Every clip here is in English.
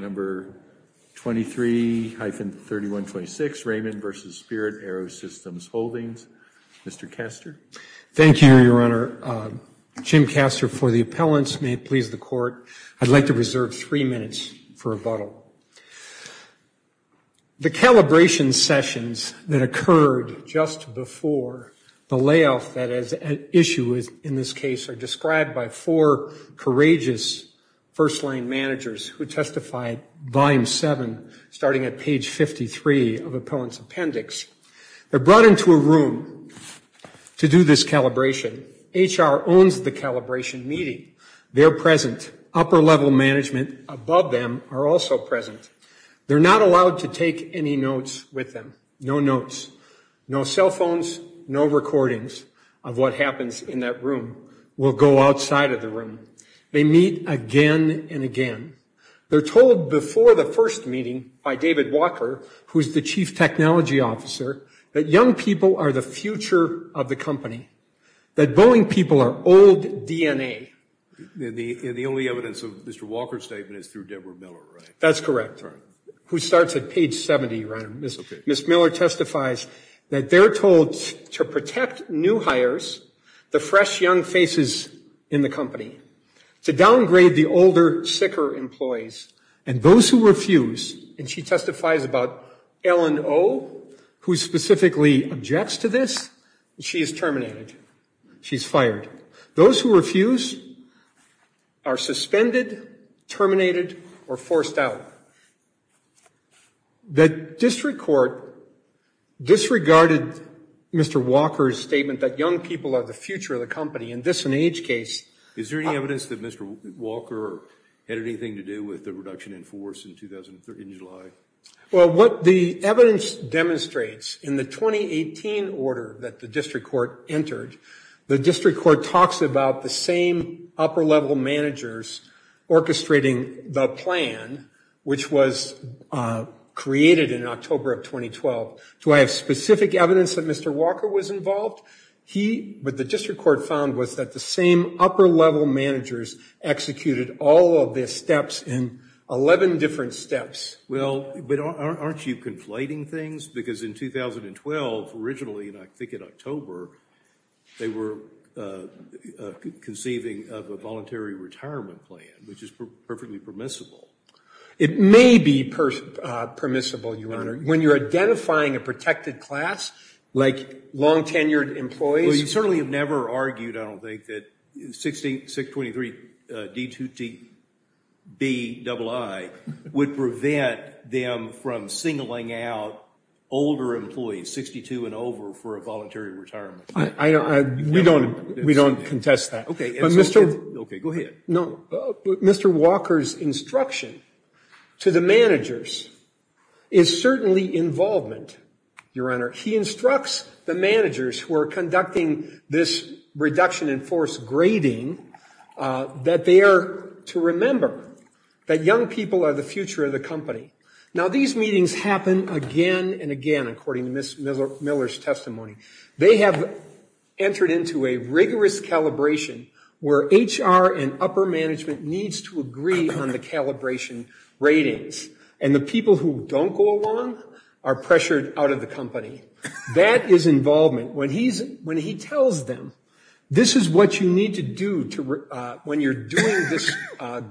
Number 23-3126, Raymond v. Spirit AeroSystems Holdings. Mr. Castor. Thank you, Your Honor. Jim Castor for the appellants. May it please the Court, I'd like to reserve three minutes for rebuttal. The calibration sessions that occurred just before the layoff that is at issue in this case are described by four courageous first-line managers who testified, Volume 7, starting at page 53 of the appellant's appendix. They're brought into a room to do this calibration. HR owns the calibration meeting. They're present. Upper-level management above them are also present. They're not allowed to take any notes with them. No notes, no cell phones, no recordings of what happens in that room will go outside of the room. They meet again and again. They're told before the first meeting by David Walker, who is the chief technology officer, that young people are the future of the company, that Boeing people are old DNA. The only evidence of Mr. Walker's statement is through Deborah Miller, right? That's correct. Who starts at page 70, Your Honor. Ms. Miller testifies that they're told to protect new hires, the fresh young faces in the company, to downgrade the older, sicker employees. And those who refuse, and she testifies about Ellen Oh, who specifically objects to this, she is terminated. She's fired. Those who refuse are suspended, terminated, or forced out. The district court disregarded Mr. Walker's statement that young people are the future of the company. In this an age case... Is there any evidence that Mr. Walker had anything to do with the reduction in force in July? Well, what the evidence demonstrates in the 2018 order that the district court entered, the district court talks about the same upper-level managers orchestrating the plan, which was created in October of 2012. Do I have specific evidence that Mr. Walker was involved? He, what the district court found was that the same upper-level managers executed all of their steps in 11 different steps. Well, but aren't you conflating things? Because in 2012, originally, and I think in October, they were conceiving of a voluntary retirement plan, which is perfectly permissible. It may be permissible, Your Honor. When you're identifying a protected class, like long-tenured employees... Well, you certainly have never argued, I don't think, that 623-D2T-B-II would prevent them from singling out older employees, 62 and over, for a voluntary retirement. We don't contest that. Okay, go ahead. No, Mr. Walker's instruction to the managers is certainly involvement, Your Honor. He instructs the managers who are conducting this reduction in force grading that they are to remember that young people are the future of the company. Now, these meetings happen again and again, according to Ms. Miller's testimony. They have entered into a rigorous calibration where HR and upper management needs to agree on the calibration ratings, and the people who don't go along are pressured out of the company. That is involvement. When he tells them, this is what you need to do when you're doing this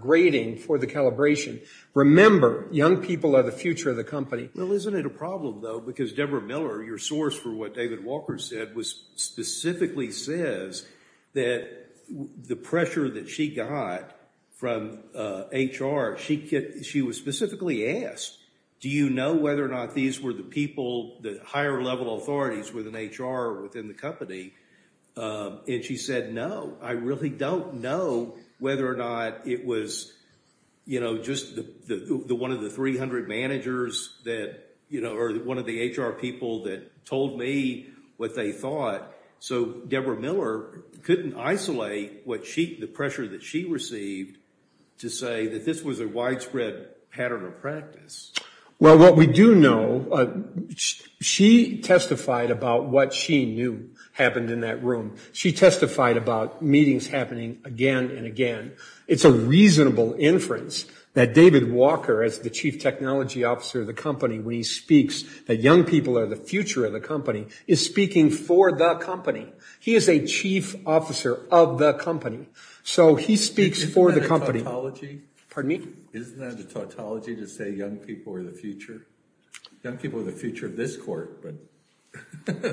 grading for the calibration. Remember, young people are the future of the company. Well, isn't it a problem, though, because Deborah Miller, your source for what David Walker said, specifically says that the pressure that she got from HR, she was specifically asked, do you know whether or not these were the people, the higher level authorities within HR or within the company? And she said, no, I really don't know whether or not it was, you know, just the one of the 300 managers that, you know, or one of the HR people that told me what they thought. So Deborah Miller couldn't isolate what she, the pressure that she received to say that this was a widespread pattern of practice. Well, what we do know, she testified about what she knew happened in that room. She testified about meetings happening again and again. It's a reasonable inference that David Walker, as the chief technology officer of the company, when he speaks that young people are the future of the company, is speaking for the company. He is a chief officer of the company. So he speaks for the company. Pardon me? Isn't that a tautology to say young people are the future? Young people are the future of this court, but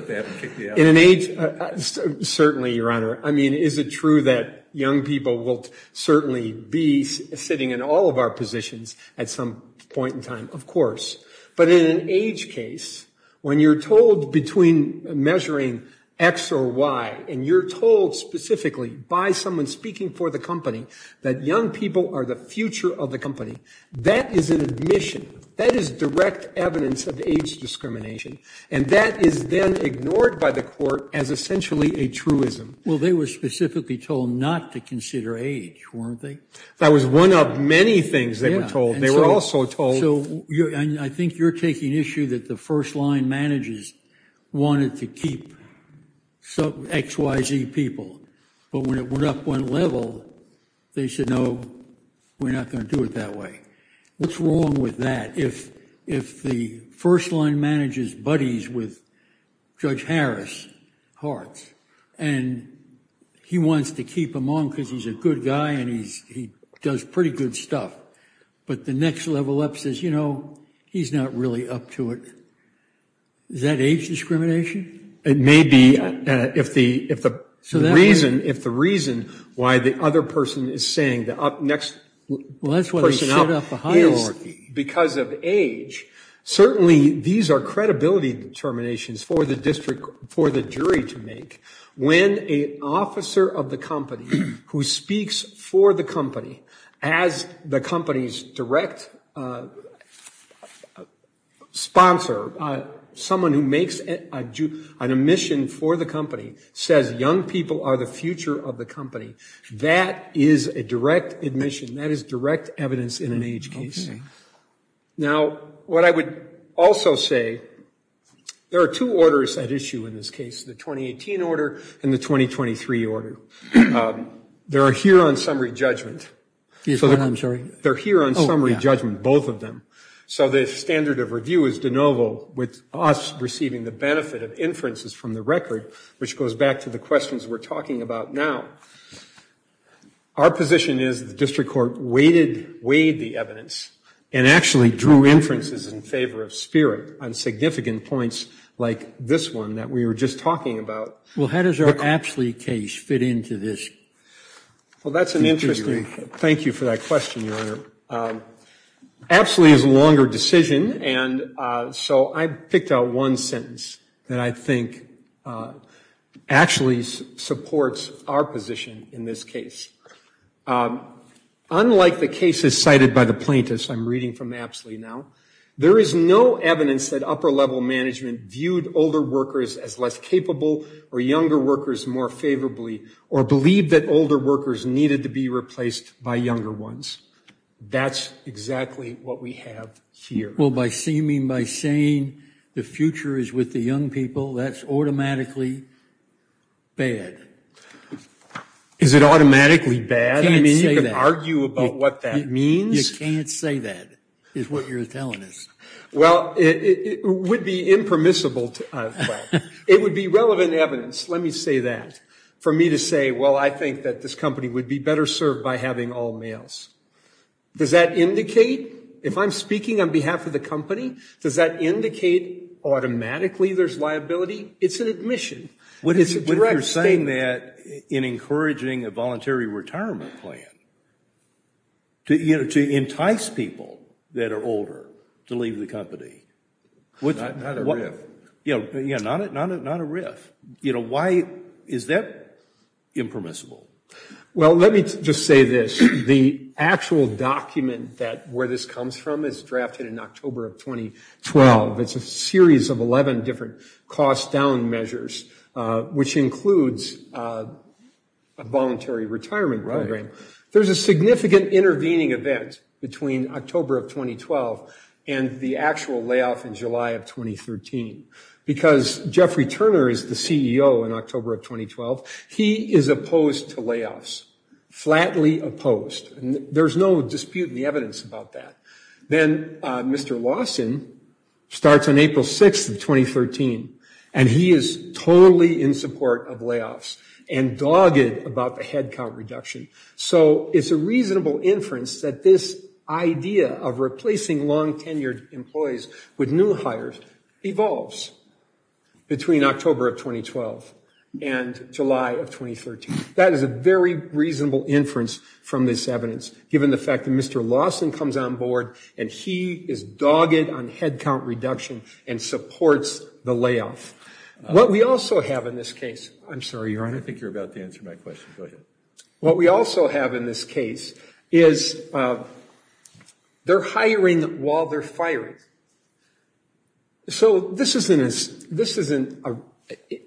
they haven't kicked me out. Certainly, Your Honor. I mean, is it true that young people will certainly be sitting in all of our positions at some point in time? Of course. But in an age case, when you're told between measuring X or Y, and you're told specifically by someone speaking for the company that young people are the future of the company, that is an admission. That is direct evidence of age discrimination. And that is then ignored by the court as essentially a truism. Well, they were specifically told not to consider age, weren't they? That was one of many things they were told. They were also told. So I think you're taking issue that the first line managers wanted to keep XYZ people. But when it went up one level, they said, no, we're not going to do it that way. What's wrong with that? If the first line manages buddies with Judge Harris, Hartz, and he wants to keep him on because he's a good guy and he does pretty good stuff, but the next level up says, you know, he's not really up to it, is that age discrimination? It may be if the reason why the other person is saying the next person up is because of age, certainly these are credibility determinations for the jury to make. When an officer of the company who speaks for the company as the company's direct sponsor, someone who makes an admission for the company says young people are the future of the company, that is a direct admission. That is direct evidence in an age case. Now, what I would also say, there are two orders at issue in this case, the 2018 order and the 2023 order. They're here on summary judgment. I'm sorry? They're here on summary judgment, both of them. So the standard of review is de novo with us receiving the benefit of inferences from the record, which goes back to the questions we're talking about now. Our position is the district court weighed the evidence and actually drew inferences in favor of Spirit on significant points like this one that we were just talking about. Well, how does our Apsley case fit into this? Well, that's an interesting, thank you for that question, Your Honor. Apsley is a longer decision, and so I picked out one sentence that I think actually supports our position in this case. Unlike the cases cited by the plaintiffs, I'm reading from Apsley now, there is no evidence that upper-level management viewed older workers as less capable or younger workers more favorably or believed that older workers needed to be replaced by younger ones. That's exactly what we have here. Well, by saying the future is with the young people, that's automatically bad. Is it automatically bad? I mean, you can argue about what that means. You can't say that is what you're telling us. Well, it would be impermissible. It would be relevant evidence, let me say that, for me to say, well, I think that this company would be better served by having all males. Does that indicate, if I'm speaking on behalf of the company, does that indicate automatically there's liability? It's an admission. What if you're saying that in encouraging a voluntary retirement plan to entice people that are older to leave the company? Not a riff. Yeah, not a riff. You know, why is that impermissible? Well, let me just say this. The actual document where this comes from is drafted in October of 2012. It's a series of 11 different cost-down measures, which includes a voluntary retirement program. There's a significant intervening event between October of 2012 and the actual layoff in July of 2013. Because Jeffrey Turner is the CEO in October of 2012, he is opposed to layoffs, flatly opposed. There's no dispute in the evidence about that. Then Mr. Lawson starts on April 6th of 2013, and he is totally in support of layoffs and dogged about the headcount reduction. So it's a reasonable inference that this idea of replacing long-tenured employees with new hires evolves between October of 2012 and July of 2013. That is a very reasonable inference from this evidence, given the fact that Mr. Lawson comes on board and he is dogged on headcount reduction and supports the layoff. What we also have in this case is they're hiring while they're firing. So this isn't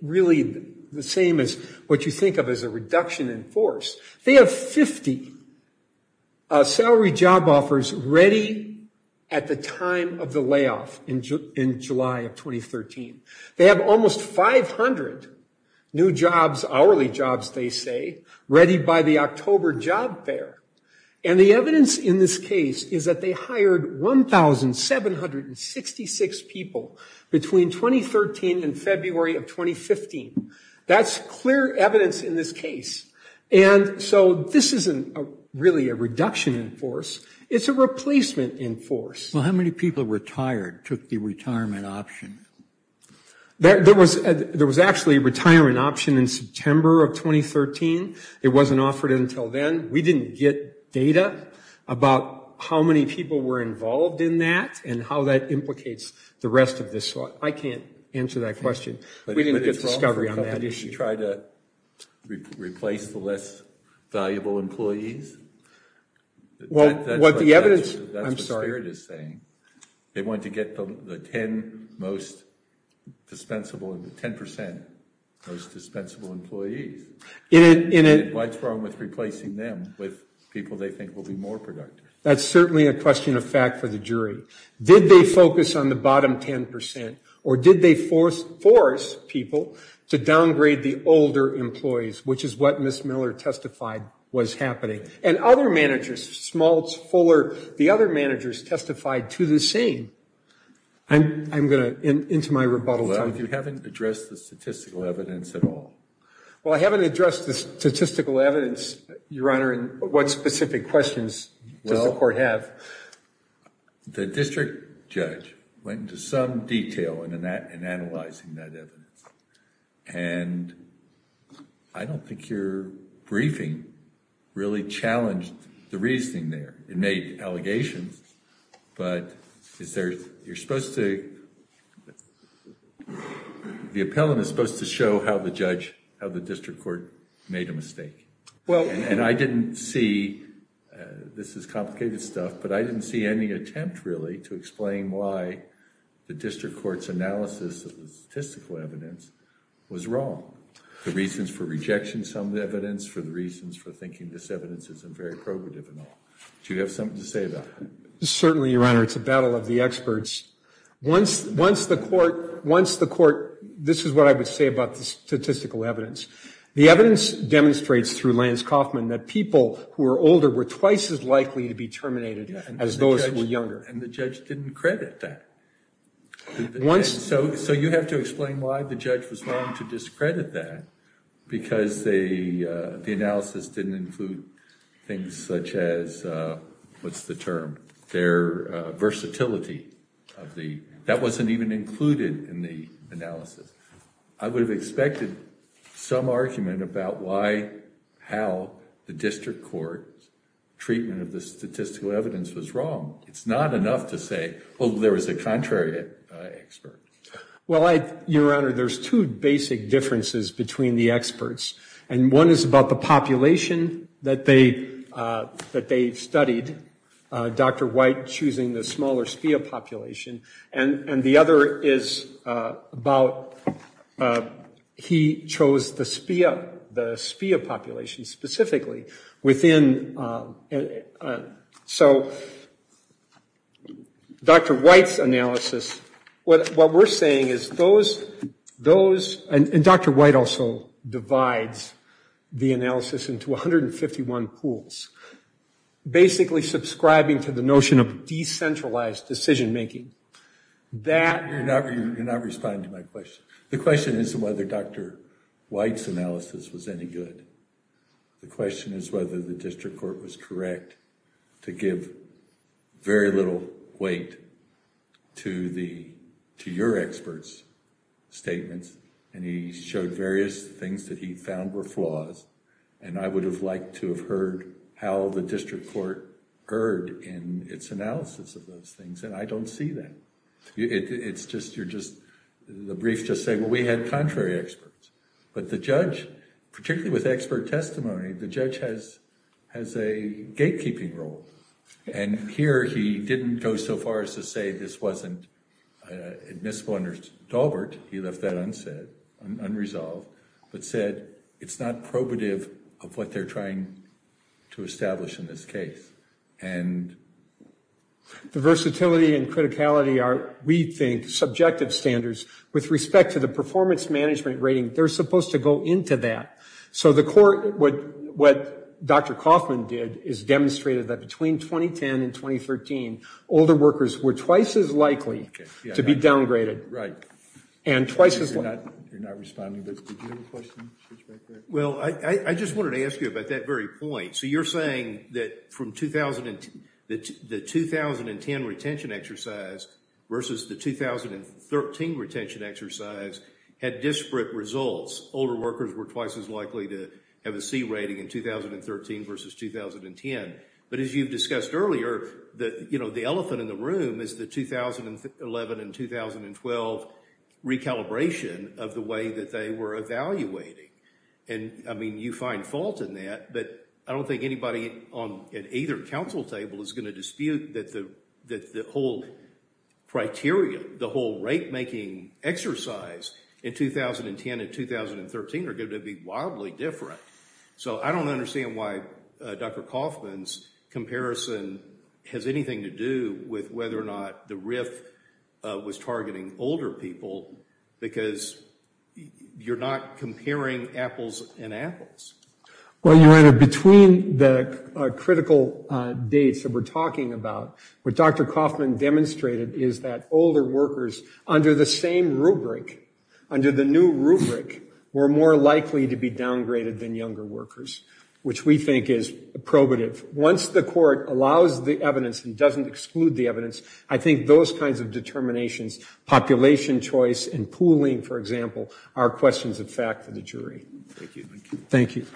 really the same as what you think of as a reduction in force. They have 50 salary job offers ready at the time of the layoff in July of 2013. They have almost 500 new jobs, hourly jobs they say, ready by the October job fair. And the evidence in this case is that they hired 1,766 people between 2013 and February of 2015. That's clear evidence in this case. And so this isn't really a reduction in force. It's a replacement in force. Well, how many people retired, took the retirement option? There was actually a retirement option in September of 2013. It wasn't offered until then. We didn't get data about how many people were involved in that and how that implicates the rest of this. I can't answer that question. We didn't get discovery on that issue. Did you try to replace the less valuable employees? That's what the spirit is saying. They wanted to get the 10 most dispensable, the 10% most dispensable employees. What's wrong with replacing them with people they think will be more productive? That's certainly a question of fact for the jury. Did they focus on the bottom 10% or did they force people to downgrade the older employees, which is what Ms. Miller testified was happening? And other managers, Smaltz, Fuller, the other managers testified to the same. I'm going to end my rebuttal time. Well, you haven't addressed the statistical evidence at all. Well, I haven't addressed the statistical evidence, Your Honor, and what specific questions does the court have? The district judge went into some detail in analyzing that evidence, and I don't think your briefing really challenged the reasoning there. It made allegations, but is there... you're supposed to... the appellant is supposed to show how the judge, how the district court made a mistake. And I didn't see, this is complicated stuff, but I didn't see any attempt really to explain why the district court's analysis of the statistical evidence was wrong. The reasons for rejection of some of the evidence, for the reasons for thinking this evidence isn't very probative and all. Do you have something to say about that? Certainly, Your Honor, it's a battle of the experts. Once the court... this is what I would say about the statistical evidence. The evidence demonstrates through Lance Kaufman that people who are older were twice as likely to be terminated as those who were younger. And the judge didn't credit that. Once... So you have to explain why the judge was wrong to discredit that, because the analysis didn't include things such as, what's the term, their versatility of the... that wasn't even included in the analysis. I would have expected some argument about why, how the district court's treatment of the statistical evidence was wrong. It's not enough to say, oh, there was a contrary expert. Well, Your Honor, there's two basic differences between the experts. And one is about the population that they studied, Dr. White choosing the smaller SPIA population. And the other is about... he chose the SPIA population specifically within... So Dr. White's analysis... what we're saying is those... and Dr. White also divides the analysis into 151 pools, basically subscribing to the notion of decentralized decision-making. That... You're not responding to my question. The question isn't whether Dr. White's analysis was any good. The question is whether the district court was correct to give very little weight to the... to your expert's statements. And he showed various things that he found were flaws. And I would have liked to have heard how the district court heard in its analysis of those things. And I don't see that. It's just... you're just... the briefs just say, well, we had contrary experts. But the judge, particularly with expert testimony, the judge has a gatekeeping role. And here he didn't go so far as to say this wasn't admissible under Daubert. He left that unsaid, unresolved, but said it's not probative of what they're trying to establish in this case. And... The versatility and criticality are, we think, subjective standards. With respect to the performance management rating, they're supposed to go into that. So the court... what Dr. Kaufman did is demonstrated that between 2010 and 2013, older workers were twice as likely to be downgraded. Right. And twice as... You're not responding, but did you have a question? Well, I just wanted to ask you about that very point. So you're saying that from the 2010 retention exercise versus the 2013 retention exercise had disparate results. Older workers were twice as likely to have a C rating in 2013 versus 2010. But as you've discussed earlier, the elephant in the room is the 2011 and 2012 recalibration of the way that they were evaluating. And, I mean, you find fault in that. But I don't think anybody on either counsel table is going to dispute that the whole criteria, the whole rate-making exercise in 2010 and 2013 are going to be wildly different. So I don't understand why Dr. Kaufman's comparison has anything to do with whether or not the RIF was targeting older people because you're not comparing apples and apples. Well, you're right. Between the critical dates that we're talking about, what Dr. Kaufman demonstrated is that older workers under the same rubric, were more likely to be downgraded than younger workers, which we think is probative. Once the court allows the evidence and doesn't exclude the evidence, I think those kinds of determinations, population choice and pooling, for example, are questions of fact for the jury. Thank you. Thank you.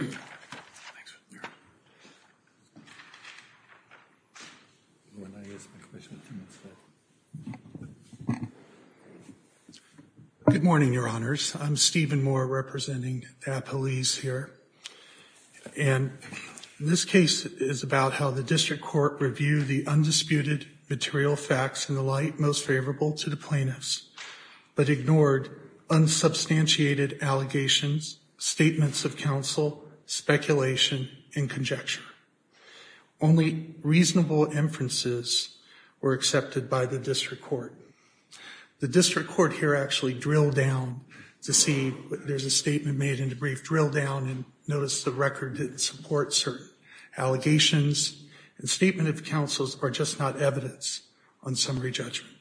Good morning, Your Honors. I'm Stephen Moore representing Appalese here. And this case is about how the district court reviewed the undisputed material facts and the like, most favorable to the plaintiffs, but ignored unsubstantiated allegations, statements of counsel, speculation and conjecture. Only reasonable inferences were accepted by the district court. The district court here actually drilled down to see there's a statement made in a brief drill down and noticed the record didn't support certain allegations. The statement of counsels are just not evidence on summary judgment.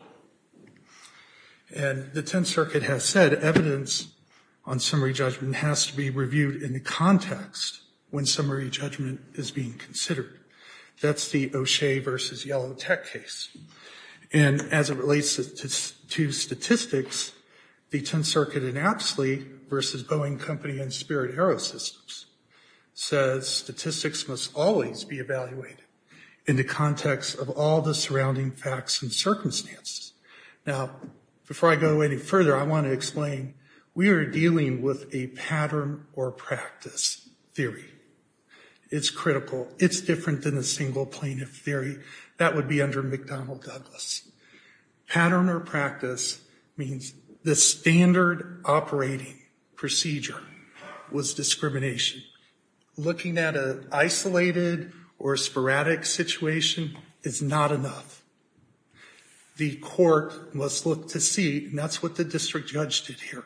And the Tenth Circuit has said evidence on summary judgment has to be reviewed in the context when summary judgment is being considered. That's the O'Shea versus Yellow Tech case. And as it relates to statistics, the Tenth Circuit in Apsley versus Boeing Company and Spirit Aerosystems says statistics must always be evaluated in the context of all the surrounding facts and circumstances. Now, before I go any further, I want to explain we are dealing with a pattern or practice theory. It's critical. It's different than a single plaintiff theory. That would be under McDonnell-Douglas. Pattern or practice means the standard operating procedure was discrimination. Looking at an isolated or sporadic situation is not enough. The court must look to see, and that's what the district judge did here,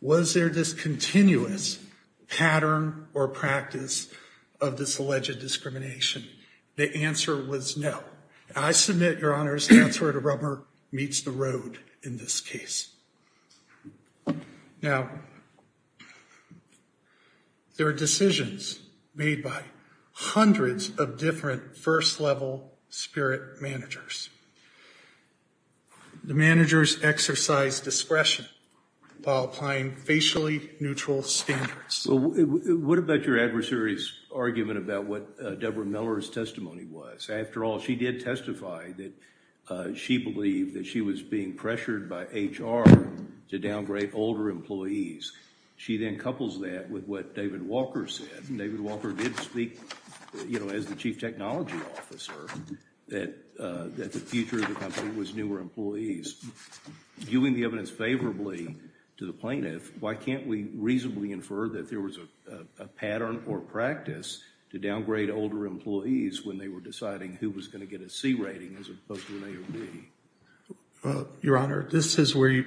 was there this continuous pattern or practice of this alleged discrimination? The answer was no. I submit, Your Honors, that's where the rubber meets the road in this case. Now, there are decisions made by hundreds of different first-level spirit managers. The managers exercise discretion while applying facially neutral standards. Well, what about your adversary's argument about what Deborah Miller's testimony was? After all, she did testify that she believed that she was being pressured by HR to downgrade older employees. She then couples that with what David Walker said. David Walker did speak, you know, as the chief technology officer, that the future of the company was newer employees. Viewing the evidence favorably to the plaintiff, why can't we reasonably infer that there was a pattern or practice to downgrade older employees when they were deciding who was going to get a C rating as opposed to an A or B? Your Honor, this is where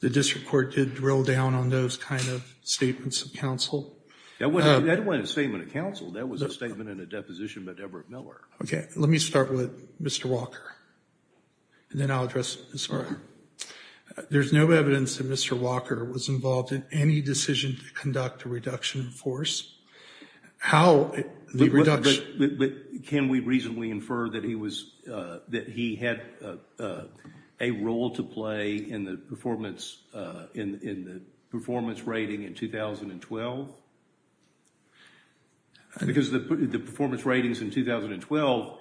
the district court did drill down on those kind of statements of counsel. That wasn't a statement of counsel. That was a statement in a deposition by Deborah Miller. Okay, let me start with Mr. Walker, and then I'll address Ms. Miller. There's no evidence that Mr. Walker was involved in any decision to conduct a reduction in force. How the reduction- But can we reasonably infer that he had a role to play in the performance rating in 2012? Because the performance ratings in 2012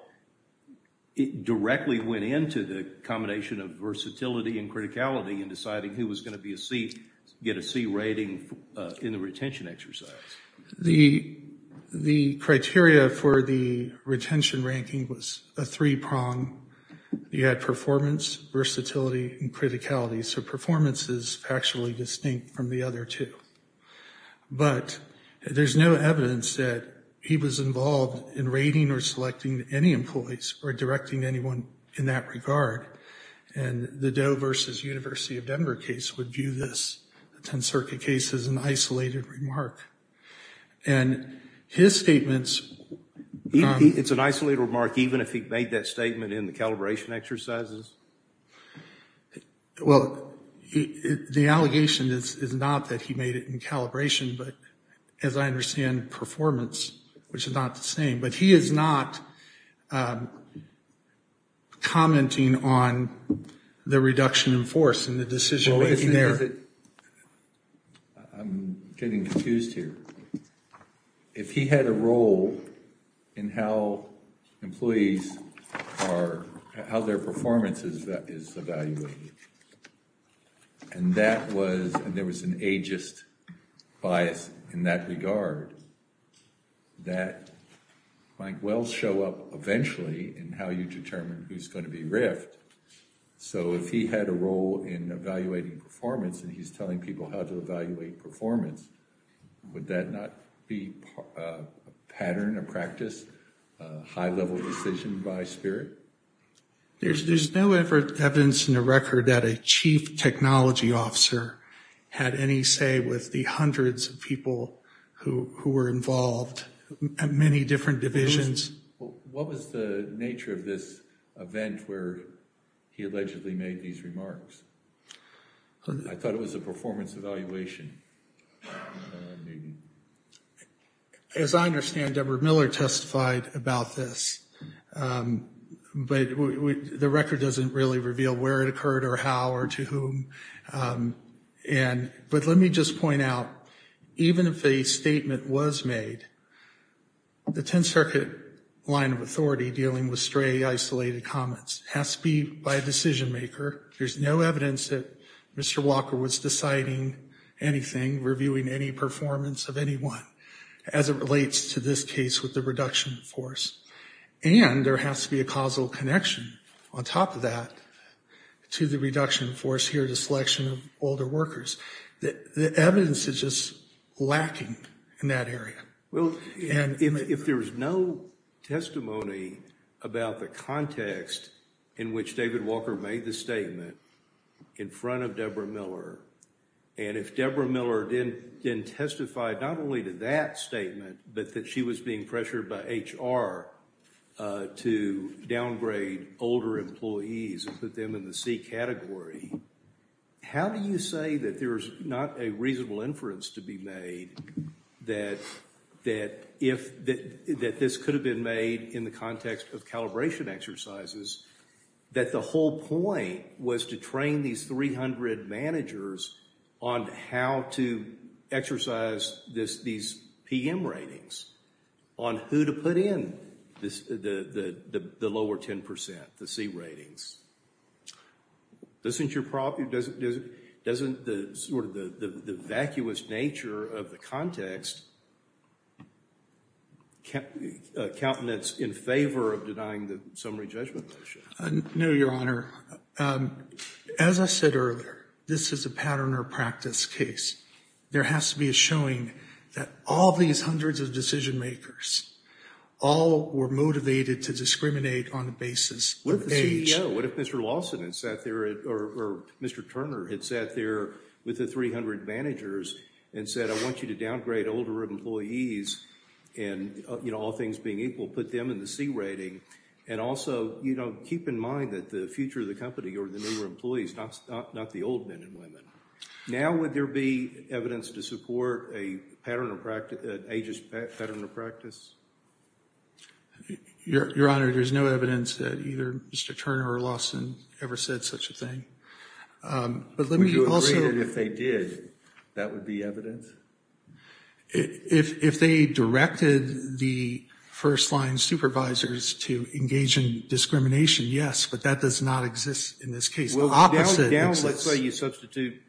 directly went into the combination of versatility and criticality in deciding who was going to get a C rating in the retention exercise. The criteria for the retention ranking was a three-prong. You had performance, versatility, and criticality, so performance is factually distinct from the other two. But there's no evidence that he was involved in rating or selecting any employees or directing anyone in that regard. And the Doe versus University of Denver case would view this 10-circuit case as an isolated remark. And his statements- It's an isolated remark even if he made that statement in the calibration exercises? Well, the allegation is not that he made it in calibration, but as I understand, performance, which is not the same. But he is not commenting on the reduction in force in the decision- I'm getting confused here. If he had a role in how employees are- how their performance is evaluated, and that was- and there was an ageist bias in that regard, that might well show up eventually in how you determine who's going to be riffed. So if he had a role in evaluating performance and he's telling people how to evaluate performance, would that not be a pattern, a practice, a high-level decision by spirit? There's no evidence in the record that a chief technology officer had any say with the hundreds of people who were involved, many different divisions. What was the nature of this event where he allegedly made these remarks? I thought it was a performance evaluation. As I understand, Deborah Miller testified about this. But the record doesn't really reveal where it occurred or how or to whom. But let me just point out, even if a statement was made, the 10th Circuit line of authority dealing with stray, isolated comments has to be by a decision-maker. There's no evidence that Mr. Walker was deciding anything, reviewing any performance of anyone, as it relates to this case with the reduction in force. And there has to be a causal connection on top of that to the reduction in force here, the selection of older workers. The evidence is just lacking in that area. Well, if there's no testimony about the context in which David Walker made the statement in front of Deborah Miller, and if Deborah Miller didn't testify not only to that statement, but that she was being pressured by HR to downgrade older employees and put them in the C category, how do you say that there's not a reasonable inference to be made that this could have been made in the context of calibration exercises, that the whole point was to train these 300 managers on how to exercise these PM ratings, on who to put in the lower 10%, the C ratings. Doesn't the vacuous nature of the context countenance in favor of denying the summary judgment motion? No, Your Honor. As I said earlier, this is a pattern or practice case. There has to be a showing that all these hundreds of decision-makers all were motivated to discriminate on the basis of age. What if the CEO, what if Mr. Lawson had sat there or Mr. Turner had sat there with the 300 managers and said, I want you to downgrade older employees and, you know, all things being equal, put them in the C rating. And also, you know, keep in mind that the future of the company or the newer employees, not the old men and women. Now would there be evidence to support a pattern of practice, an ageist pattern of practice? Your Honor, there's no evidence that either Mr. Turner or Lawson ever said such a thing. Would you agree that if they did, that would be evidence? If they directed the first-line supervisors to engage in discrimination, yes, but that does not exist in this case. The opposite exists. Let's say you substitute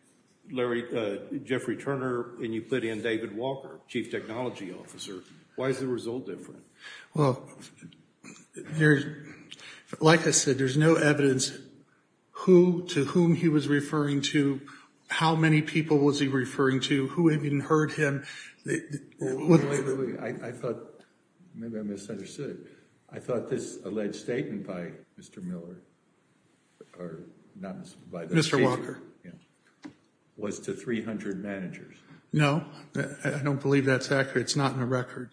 Jeffrey Turner and you put in David Walker, chief technology officer. Why is the result different? Well, like I said, there's no evidence who to whom he was referring to, how many people was he referring to, who had even heard him. Wait, wait, wait. I thought maybe I misunderstood it. I thought this alleged statement by Mr. Miller or not by Mr. Walker was to 300 managers. No, I don't believe that's accurate. It's not in the record.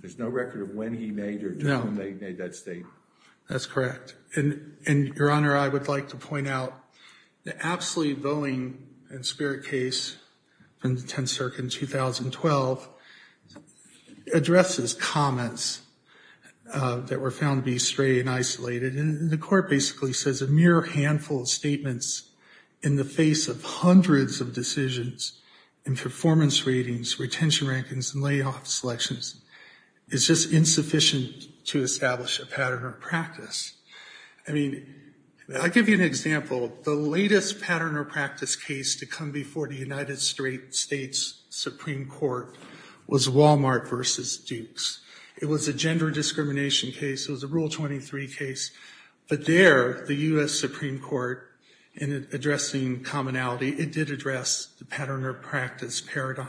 There's no record of when he made or to whom they made that statement. That's correct. Your Honor, I would like to point out the absolute Boeing and Spirit case in the 10th Circuit in 2012 addresses comments that were found to be stray and isolated. And the court basically says a mere handful of statements in the face of hundreds of decisions and performance ratings, retention rankings and layoff selections is just insufficient to establish a pattern or practice. I mean, I'll give you an example. The latest pattern or practice case to come before the United States Supreme Court was Walmart versus Dukes. It was a gender discrimination case. It was a Rule 23 case. But there, the U.S. Supreme Court, in addressing commonality, it did address the pattern or practice paradigm.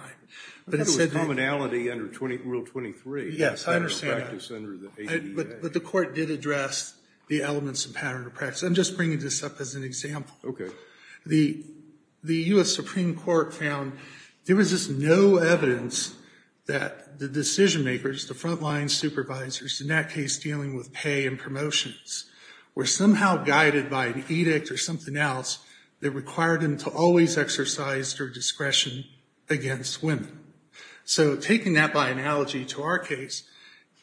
I thought it was commonality under Rule 23. Yes, I understand that. But the court did address the elements of pattern or practice. I'm just bringing this up as an example. Okay. The U.S. Supreme Court found there was just no evidence that the decision-makers, the front-line supervisors, in that case dealing with pay and promotions, were somehow guided by an edict or something else that required them to always exercise their discretion against women. So taking that by analogy to our case,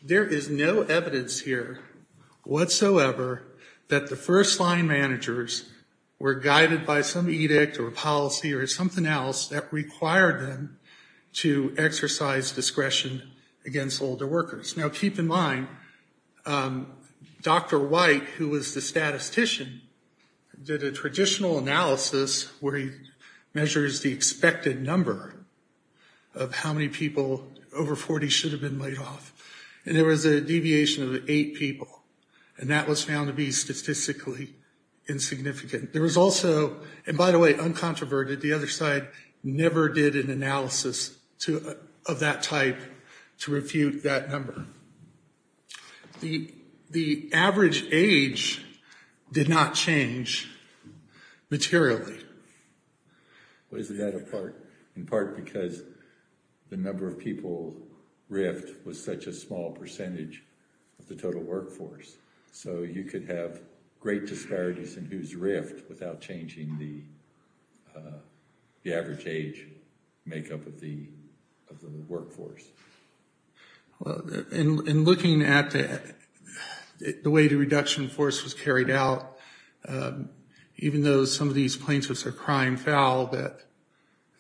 there is no evidence here whatsoever that the first-line managers were guided by some edict or policy or something else that required them to exercise discretion against older workers. Now, keep in mind, Dr. White, who was the statistician, did a traditional analysis where he measures the expected number of how many people over 40 should have been laid off. And there was a deviation of eight people. And that was found to be statistically insignificant. And by the way, uncontroverted, the other side never did an analysis of that type to refute that number. The average age did not change materially. Well, isn't that in part because the number of people riffed was such a small percentage of the total workforce? So you could have great disparities in who's riffed without changing the average age makeup of the workforce. In looking at the way the reduction force was carried out, even though some of these plaintiffs are crying foul that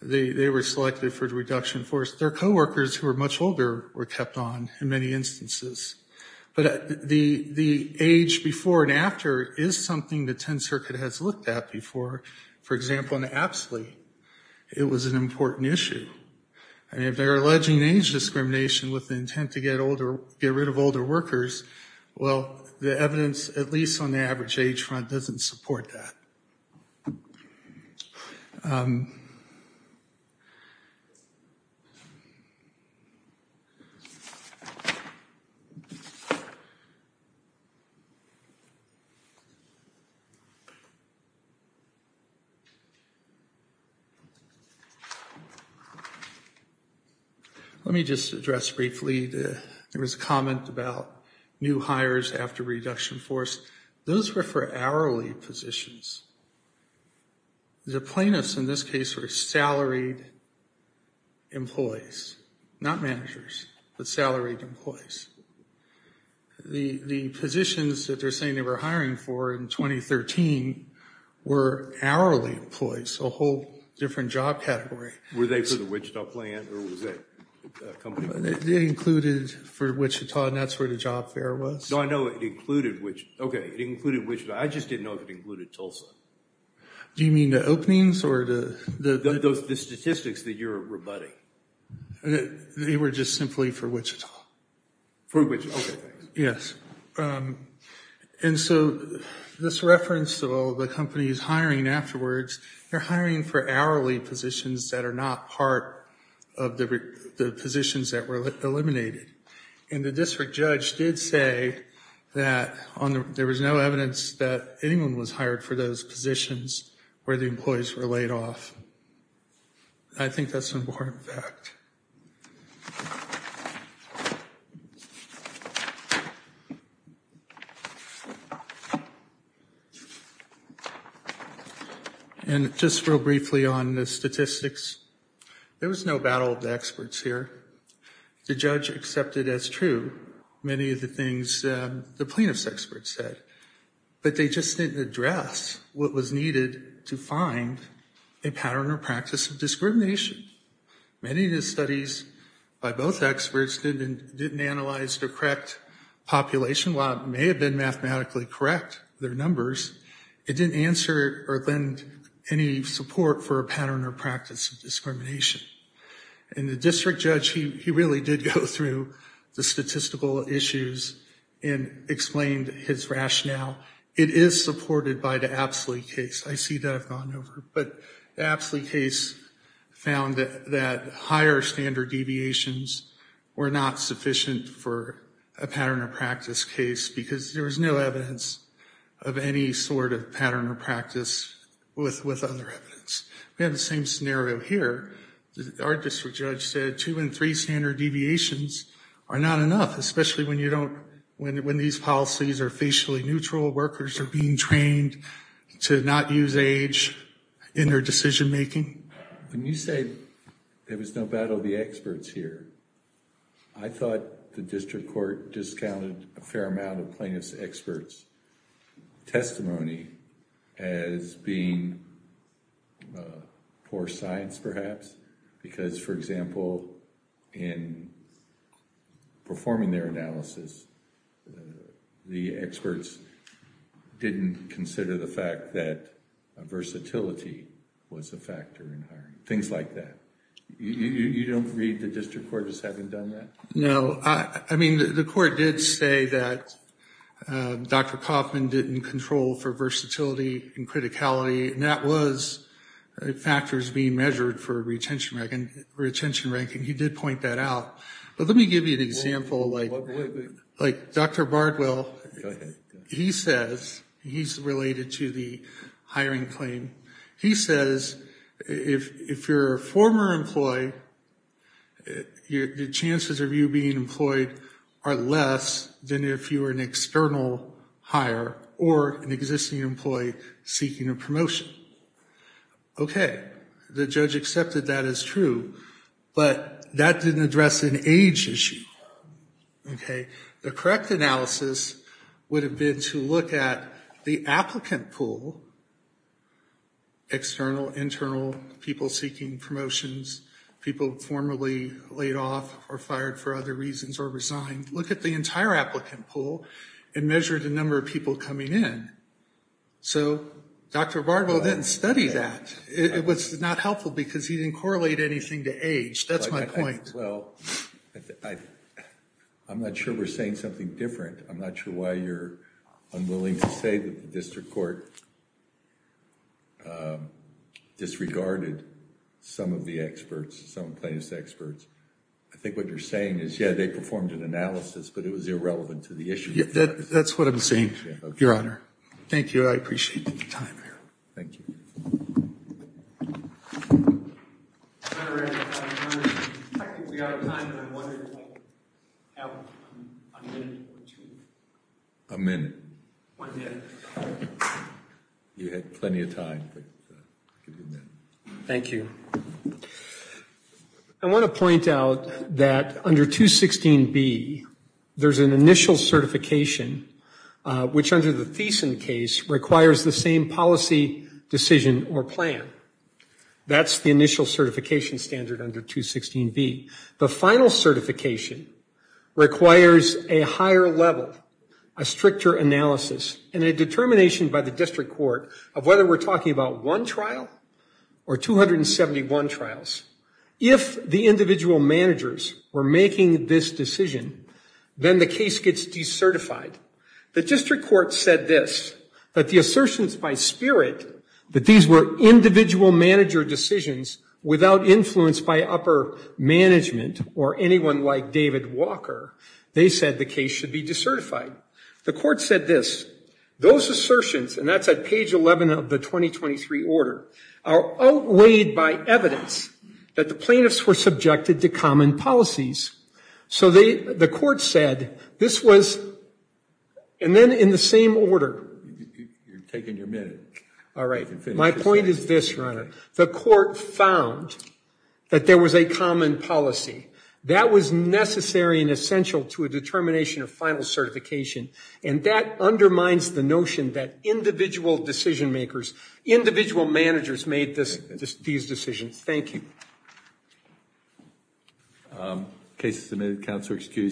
they were selected for the reduction force, their co-workers who are much older were kept on in many instances. But the age before and after is something the Tenth Circuit has looked at before. For example, in Apsley, it was an important issue. And if they're alleging age discrimination with the intent to get rid of older workers, well, the evidence, at least on the average age front, doesn't support that. Let me just address briefly. There was a comment about new hires after reduction force. Those were for hourly positions. The plaintiffs in this case were salaried employees, not managers, but salaried employees. The positions that they're saying they were hiring for in 2013 were hourly employees, a whole different job category. Were they for the Wichita plant, or was it a company? They included for Wichita, and that's where the job fair was. No, I know it included Wichita. I just didn't know if it included Tulsa. Do you mean the openings? The statistics that you're rebutting. They were just simply for Wichita. For Wichita, okay. Yes, and so this reference to all the companies hiring afterwards, they're hiring for hourly positions that are not part of the positions that were eliminated. And the district judge did say that there was no evidence that anyone was hired for those positions where the employees were laid off. I think that's an important fact. And just real briefly on the statistics, there was no battle of the experts here. The judge accepted as true many of the things the plaintiff's experts said, but they just didn't address what was needed to find a pattern or practice of discrimination. Many of the studies by both experts didn't analyze the correct population. While it may have been mathematically correct, their numbers, it didn't answer or lend any support for a pattern or practice of discrimination. And the district judge, he really did go through the statistical issues and explained his rationale. It is supported by the Apsley case. I see that I've gone over, but the Apsley case found that higher standard deviations were not sufficient for a pattern or practice case because there was no evidence of any sort of pattern or practice with other evidence. We have the same scenario here. Our district judge said two and three standard deviations are not enough, especially when these policies are facially neutral. Workers are being trained to not use age in their decision making. When you say there was no battle of the experts here, I thought the district court discounted a fair amount of plaintiff's experts' testimony as being poor science perhaps because, for example, in performing their analysis, the experts didn't consider the fact that versatility was a factor in hiring. Things like that. You don't read the district court as having done that? No. I mean, the court did say that Dr. Kaufman didn't control for versatility and criticality, and that was factors being measured for retention rank, and he did point that out. But let me give you an example. Like Dr. Bardwell, he says, he's related to the hiring claim, he says if you're a former employee, the chances of you being employed are less than if you were an external hire or an existing employee seeking a promotion. Okay. The judge accepted that as true, but that didn't address an age issue. Okay. The correct analysis would have been to look at the applicant pool, external, internal, people seeking promotions, people formerly laid off or fired for other reasons or resigned. Look at the entire applicant pool and measure the number of people coming in. So Dr. Bardwell didn't study that. It was not helpful because he didn't correlate anything to age. That's my point. Well, I'm not sure we're saying something different. I'm not sure why you're unwilling to say the district court disregarded some of the experts, some plaintiffs' experts. I think what you're saying is, yeah, they performed an analysis, but it was irrelevant to the issue. That's what I'm saying, Your Honor. Thank you. I appreciate the time. Thank you. I ran out of time. I think we're out of time, and I wanted to have a minute or two. A minute. One minute. You had plenty of time, but I'll give you a minute. Thank you. I want to point out that under 216B, there's an initial certification, which under the Thiessen case requires the same policy decision or plan. That's the initial certification standard under 216B. The final certification requires a higher level, a stricter analysis, and a determination by the district court of whether we're talking about one trial or 271 trials. If the individual managers were making this decision, then the case gets decertified. The district court said this, that the assertions by spirit, that these were individual manager decisions without influence by upper management or anyone like David Walker, they said the case should be decertified. The court said this. Those assertions, and that's at page 11 of the 2023 order, are outweighed by evidence that the plaintiffs were subjected to common policies. So the court said this was, and then in the same order. You're taking your minute. All right. My point is this, Your Honor. The court found that there was a common policy. That was necessary and essential to a determination of final certification, and that undermines the notion that individual decision makers, individual managers made these decisions. Thank you. The case is submitted. Counselor, excuse me.